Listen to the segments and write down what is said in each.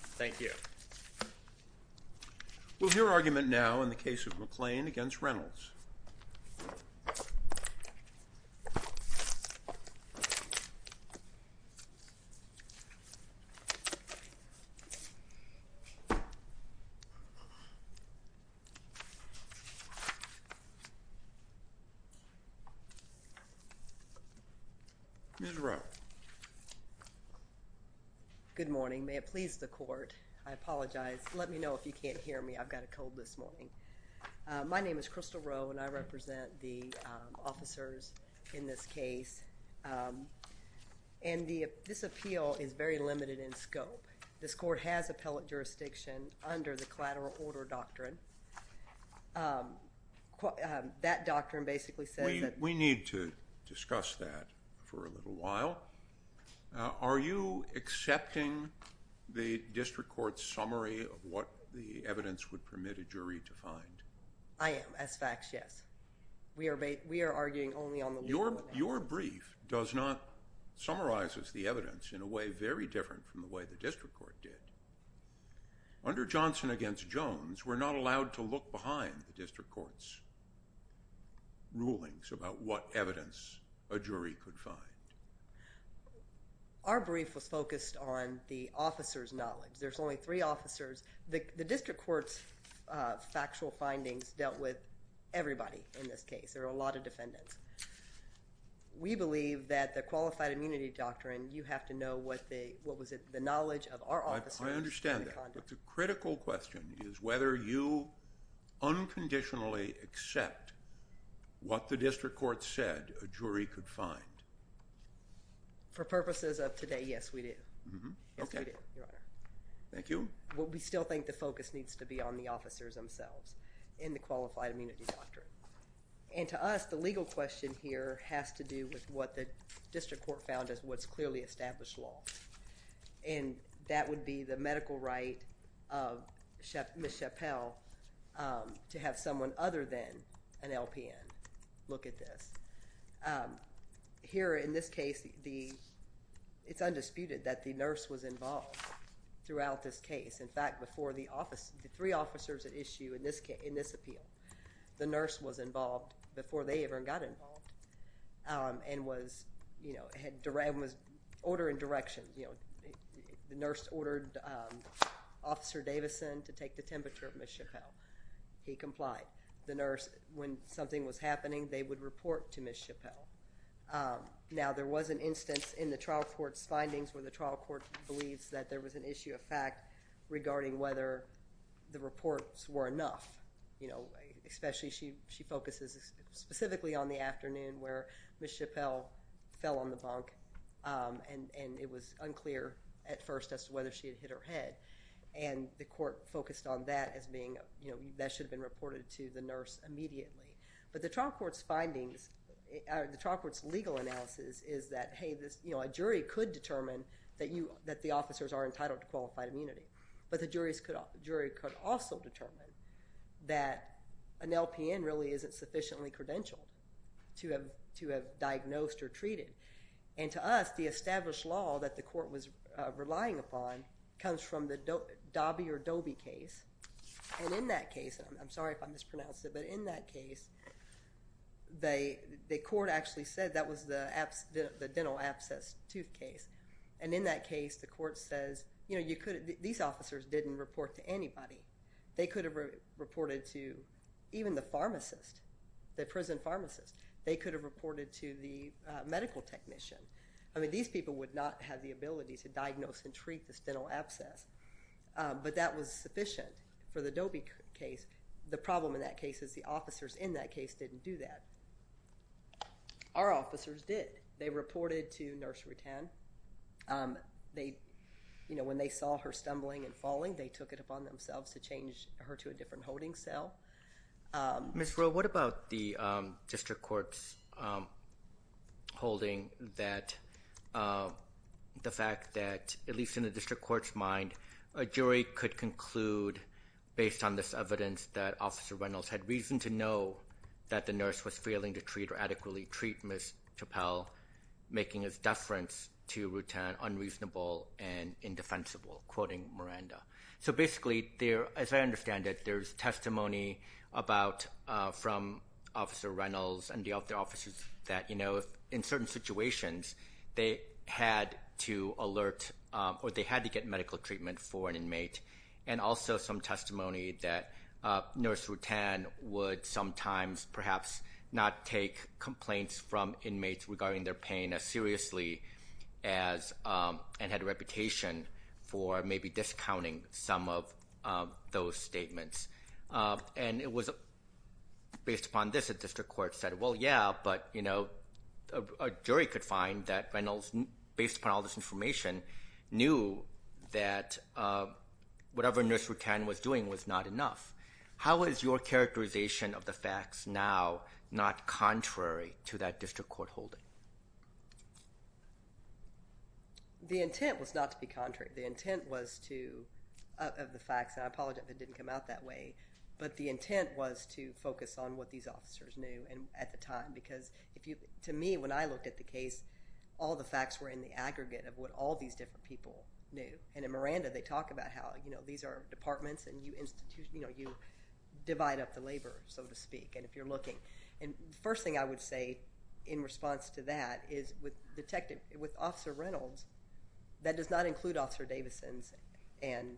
Thank you. We'll hear argument now in the case of McClain v. Reynolds. Mrs. Rowe. Good morning. May it please the court. I apologize. Let me know if you can't hear me. I've got a cold this morning. My name is Crystal Rowe and I represent the officers in this case. And this appeal is very limited in scope. This court has appellate jurisdiction under the collateral order doctrine. That doctrine basically says that... We need to discuss that for a little while. Are you accepting the district court's summary of what the evidence would permit a jury to find? I am. As facts, yes. We are arguing only on the legal... Your brief does not... summarizes the evidence in a way very different from the way the district court did. Under Johnson v. Jones, we're not allowed to look behind the district court's rulings about what evidence a jury could find. Our brief was focused on the officer's knowledge. There's only three officers. The district court's factual findings dealt with everybody in this case. There are a lot of defendants. We believe that the qualified immunity doctrine, you have to know what the knowledge of our officers... I understand that. But the critical question is whether you unconditionally accept what the district court said a jury could find. For purposes of today, yes, we do. Thank you. We still think the focus needs to be on the officers themselves in the qualified immunity doctrine. And to us, the legal question here has to do with what the district court found as what's clearly established law. And that would be the medical right of Ms. Chappell to have someone other than an LPN look at this. Here, in this case, it's undisputed that the nurse was involved throughout this case. In fact, before the three officers at issue in this appeal, the nurse was involved before they ever got involved and was ordering directions. The nurse ordered Officer Davison to take the temperature of Ms. Chappell. He complied. The nurse, when something was happening, they would report to Ms. Chappell. Now, there was an instance in the trial court's findings where the trial court believes that there was an issue of fact regarding whether the reports were enough. Especially, she focuses specifically on the afternoon where Ms. Chappell fell on the bunk and it was unclear at first as to whether she had hit her head. And the court focused on that as being, that should have been reported to the nurse immediately. But the trial court's legal analysis is that, hey, a jury could determine that the officers are entitled to qualified immunity. But the jury could also determine that an LPN really isn't sufficiently credentialed to have diagnosed or treated. And to us, the established law that the court was relying upon comes from the Dobby or Doby case. And in that case, I'm sorry if I mispronounced it, but in that case, the court actually said that was the dental abscess tooth case. And in that case, the court says, you know, these officers didn't report to anybody. They could have reported to even the pharmacist, the prison pharmacist. They could have reported to the medical technician. I mean, these people would not have the ability to diagnose and treat this dental abscess. But that was sufficient for the Dobby case. The problem in that case is the officers in that case didn't do that. Our officers did. They reported to Nursery 10. They, you know, when they saw her stumbling and falling, they took it upon themselves to change her to a different holding cell. Ms. Rowe, what about the district court's holding that the fact that, at least in the district court's mind, a jury could conclude based on this evidence that Officer Reynolds had reason to know that the nurse was failing to treat or adequately treat Ms. Chappell, making his deference to Rutan unreasonable and indefensible, quoting Miranda. So basically, as I understand it, there's testimony from Officer Reynolds and the other officers that, you know, in certain situations they had to alert or they had to get medical treatment for an inmate, and also some testimony that Nurse Rutan would sometimes perhaps not take complaints from inmates regarding their pain as seriously as and had a reputation for maybe discounting some of those statements. And it was based upon this that district court said, well, yeah, but, you know, a jury could find that Reynolds, based upon all this information, knew that whatever Nurse Rutan was doing was not enough. How is your characterization of the facts now not contrary to that district court holding? The intent was not to be contrary. The intent was to, of the facts, and I apologize if it didn't come out that way, but the intent was to focus on what these officers knew at the time because, to me, when I looked at the case, all the facts were in the aggregate of what all these different people knew. And in Miranda, they talk about how, you know, these are departments and, you know, you divide up the labor, so to speak, and if you're looking. And the first thing I would say in response to that is with Detective, with Officer Reynolds, that does not include Officer Davison's and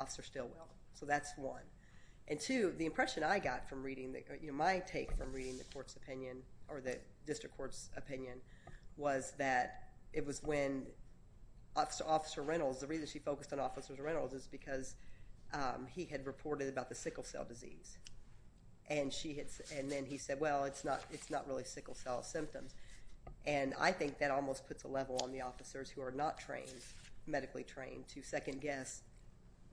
Officer Stilwell. So that's one. And two, the impression I got from reading, you know, my take from reading the court's opinion or the district court's opinion was that it was when Officer Reynolds, the reason she focused on Officer Reynolds is because he had reported about the sickle cell disease. And then he said, well, it's not really sickle cell symptoms. And I think that almost puts a level on the officers who are not trained, medically trained, to second guess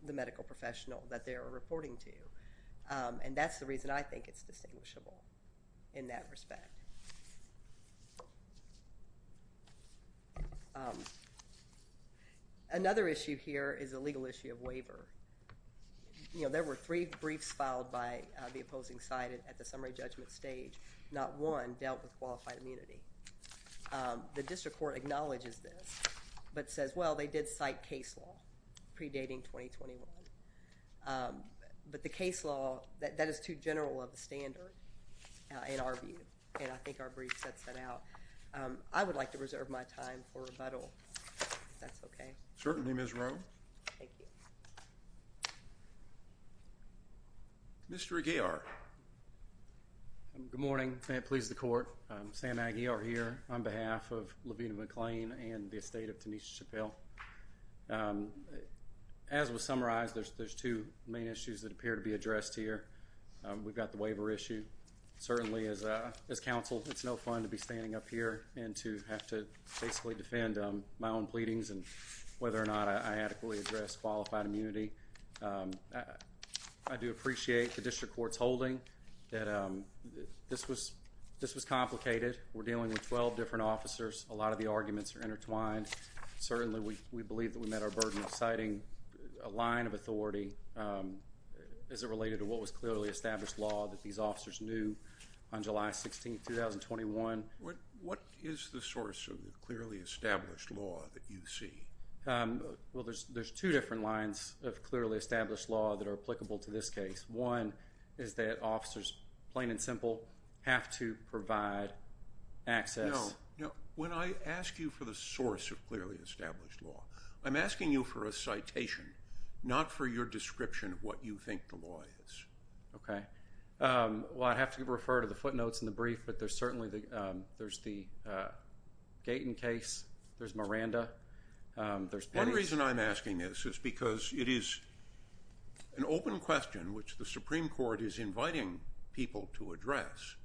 the medical professional that they are reporting to. And that's the reason I think it's distinguishable in that respect. Another issue here is a legal issue of waiver. You know, there were three briefs filed by the opposing side at the summary judgment stage. Not one dealt with qualified immunity. The district court acknowledges this, but says, well, they did cite case law predating 2021. But the case law, that is too general of a standard in our view. And I think our brief sets that out. I would like to reserve my time for rebuttal, if that's OK. Certainly, Ms. Rowe. Thank you. Mr. Aguiar. Good morning. May it please the court. Sam Aguiar here on behalf of Levina McLean and the estate of Tanisha Chappell. As was summarized, there's there's two main issues that appear to be addressed here. We've got the waiver issue. Certainly, as counsel, it's no fun to be standing up here and to have to basically defend my own pleadings and whether or not I adequately address qualified immunity. I do appreciate the district court's holding that this was this was complicated. We're dealing with 12 different officers. A lot of the arguments are intertwined. Certainly, we believe that we met our burden of citing a line of authority. Is it related to what was clearly established law that these officers knew on July 16th, 2021? What is the source of the clearly established law that you see? Well, there's there's two different lines of clearly established law that are applicable to this case. One is that officers, plain and simple, have to provide access. You know, when I ask you for the source of clearly established law, I'm asking you for a citation, not for your description of what you think the law is. OK. Well, I have to refer to the footnotes in the brief, but there's certainly the there's the Gaten case. There's Miranda. There's one reason I'm asking this is because it is an open question which the Supreme Court is inviting people to address.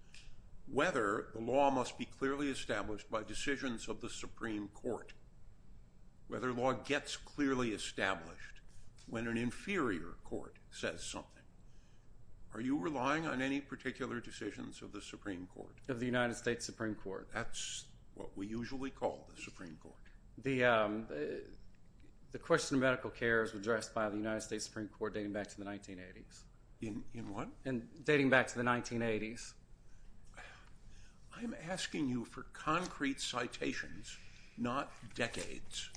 Whether the law must be clearly established by decisions of the Supreme Court. Whether law gets clearly established when an inferior court says something. Are you relying on any particular decisions of the Supreme Court of the United States Supreme Court? That's what we usually call the Supreme Court. The question of medical care is addressed by the United States Supreme Court dating back to the 1980s. And dating back to the 1980s. I'm asking you for concrete citations, not decades.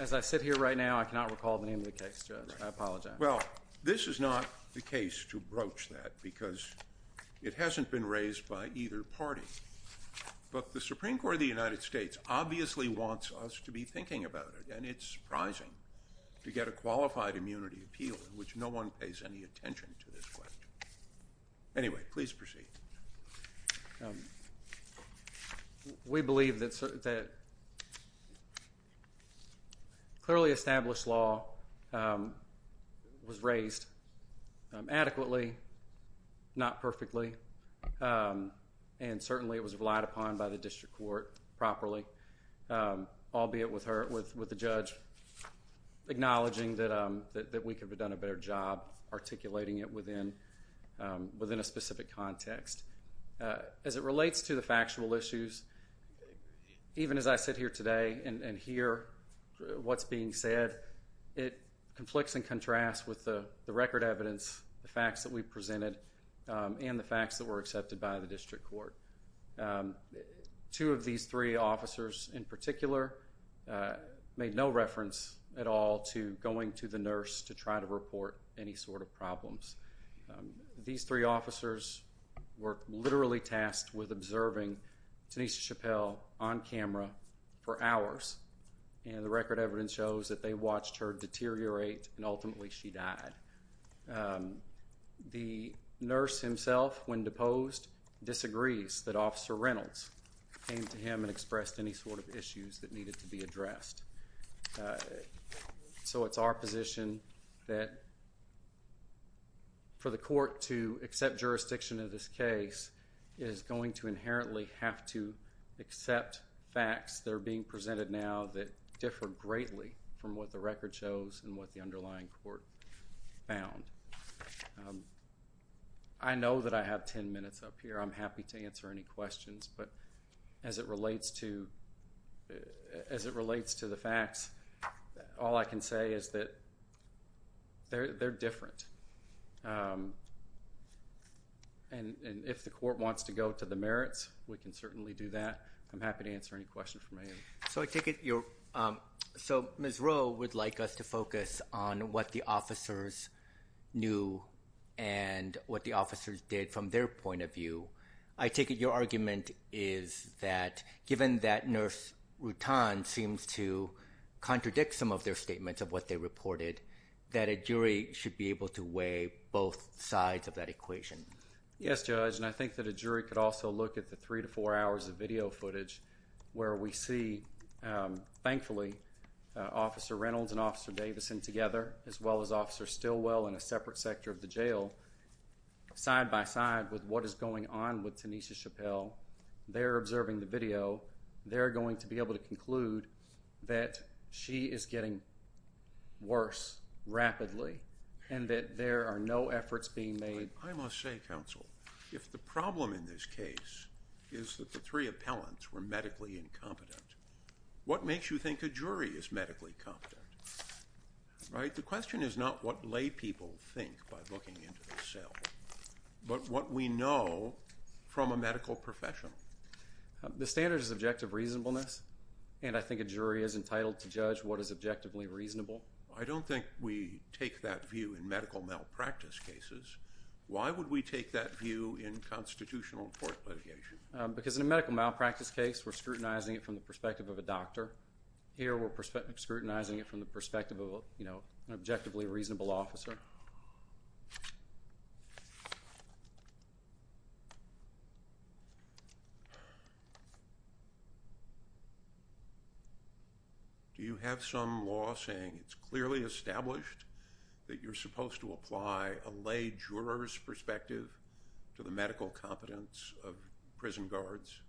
As I sit here right now, I cannot recall the name of the case. I apologize. Well, this is not the case to broach that because it hasn't been raised by either party. But the Supreme Court of the United States obviously wants us to be thinking about it. And it's surprising to get a qualified immunity appeal in which no one pays any attention to this question. Anyway, please proceed. We believe that clearly established law was raised adequately, not perfectly. And certainly it was relied upon by the district court properly. Albeit with the judge acknowledging that we could have done a better job articulating it within a specific context. As it relates to the factual issues, even as I sit here today and hear what's being said, it conflicts and contrasts with the record evidence, the facts that we presented, and the facts that were accepted by the district court. Two of these three officers in particular made no reference at all to going to the nurse to try to report any sort of problems. These three officers were literally tasked with observing Tanisha Chappell on camera for hours. And the record evidence shows that they watched her deteriorate and ultimately she died. The nurse himself, when deposed, disagrees that Officer Reynolds came to him and expressed any sort of issues that needed to be addressed. So it's our position that for the court to accept jurisdiction in this case, it is going to inherently have to accept facts that are being presented now that differ greatly from what the record shows and what the underlying court found. I know that I have ten minutes up here. I'm happy to answer any questions. But as it relates to the facts, all I can say is that they're different. And if the court wants to go to the merits, we can certainly do that. I'm happy to answer any questions from any of you. So I take it you're – so Ms. Rowe would like us to focus on what the officers knew and what the officers did from their point of view. I take it your argument is that given that Nurse Rutan seems to contradict some of their statements of what they reported, that a jury should be able to weigh both sides of that equation. Yes, Judge. And I think that a jury could also look at the three to four hours of video footage where we see, thankfully, Officer Reynolds and Officer Davidson together, as well as Officer Stilwell in a separate sector of the jail, side by side with what is going on with Tanisha Chappell. They're observing the video. They're going to be able to conclude that she is getting worse rapidly and that there are no efforts being made. I must say, counsel, if the problem in this case is that the three appellants were medically incompetent, what makes you think a jury is medically competent? Right? The question is not what lay people think by looking into the cell, but what we know from a medical professional. The standard is objective reasonableness, and I think a jury is entitled to judge what is objectively reasonable. I don't think we take that view in medical malpractice cases. Why would we take that view in constitutional court litigation? Because in a medical malpractice case, we're scrutinizing it from the perspective of a doctor. Here, we're scrutinizing it from the perspective of an objectively reasonable officer. Do you have some law saying it's clearly established that you're supposed to apply a lay juror's perspective to the medical competence of prison guards?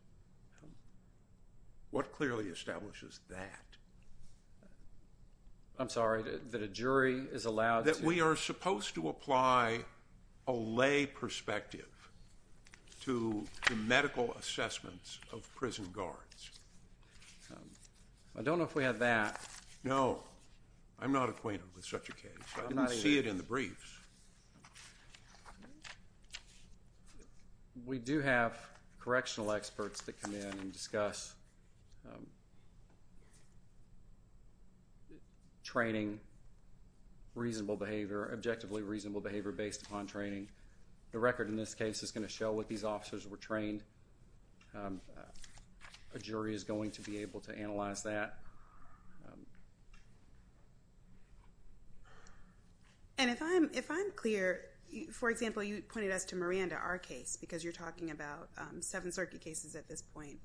What clearly establishes that? I'm sorry. That a jury is allowed to? That we are supposed to apply a lay perspective to the medical assessments of prison guards. I don't know if we have that. No. I'm not acquainted with such a case. I didn't see it in the briefs. We do have correctional experts that come in and discuss training, reasonable behavior, objectively reasonable behavior based upon training. The record in this case is going to show what these officers were trained. A jury is going to be able to analyze that. And if I'm clear, for example, you pointed us to Miranda, our case, because you're talking about seven circuit cases at this point.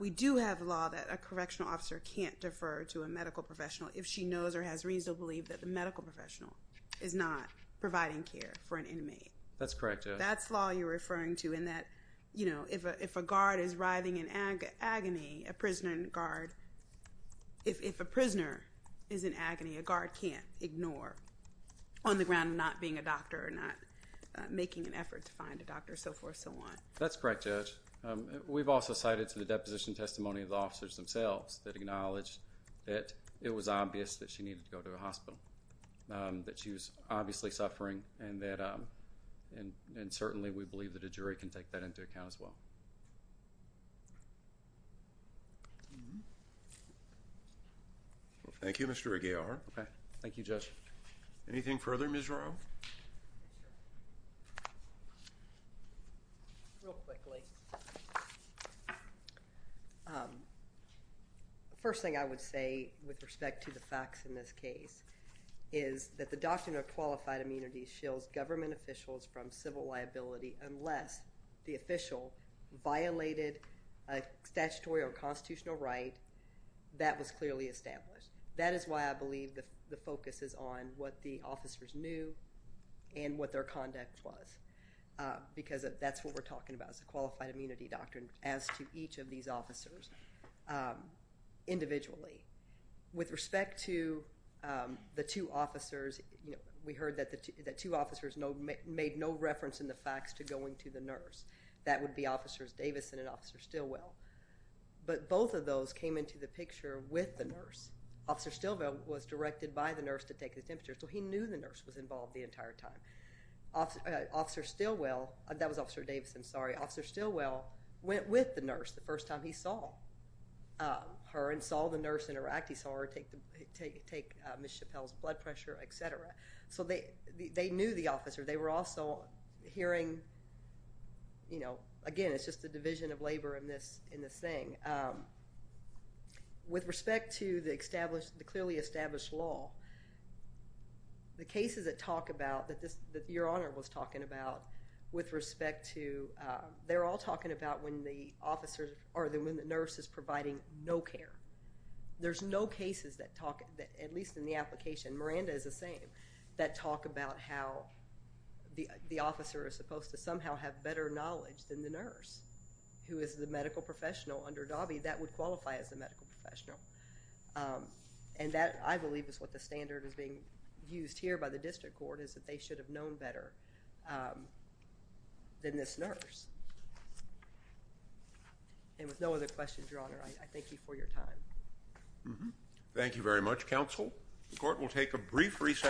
We do have law that a correctional officer can't defer to a medical professional if she knows or has reasonable belief that the medical professional is not providing care for an inmate. That's correct. And that, you know, if a guard is writhing in agony, a prison guard, if a prisoner is in agony, a guard can't ignore on the ground not being a doctor or not making an effort to find a doctor, so forth, so on. That's correct, Judge. We've also cited to the deposition testimony of the officers themselves that acknowledged that it was obvious that she needed to go to a hospital. That she was obviously suffering, and certainly we believe that a jury can take that into account as well. Thank you, Mr. Aguilar. Okay. Thank you, Judge. Anything further, Ms. Rowe? Real quickly. First thing I would say with respect to the facts in this case is that the Doctrine of Qualified Immunity shields government officials from civil liability unless the official violated a statutory or constitutional right that was clearly established. That is why I believe the focus is on what the officers knew and what their conduct was because that's what we're talking about is the Qualified Immunity Doctrine as to each of these officers individually. With respect to the two officers, you know, we heard that the two officers made no reference in the facts to going to the nurse. That would be Officers Davison and Officers Stilwell. But both of those came into the picture with the nurse. Officer Stilwell was directed by the nurse to take his temperature, so he knew the nurse was involved the entire time. Officer Stilwell, that was Officer Davison, sorry. Officer Stilwell went with the nurse the first time he saw her and saw the nurse interact. He saw her take Ms. Chappelle's blood pressure, etc. So they knew the officer. They were also hearing, you know, again, it's just the division of labor in this thing. With respect to the clearly established law, the cases that talk about, that Your Honor was talking about, with respect to, they're all talking about when the nurse is providing no care. There's no cases that talk, at least in the application, Miranda is the same, that talk about how the officer is supposed to somehow have better knowledge than the nurse, who is the medical professional under DAWBE, that would qualify as a medical professional. And that, I believe, is what the standard is being used here by the District Court, is that they should have known better than this nurse. And with no other questions, Your Honor, I thank you for your time. Thank you very much, Counsel. The Court will take a brief recess.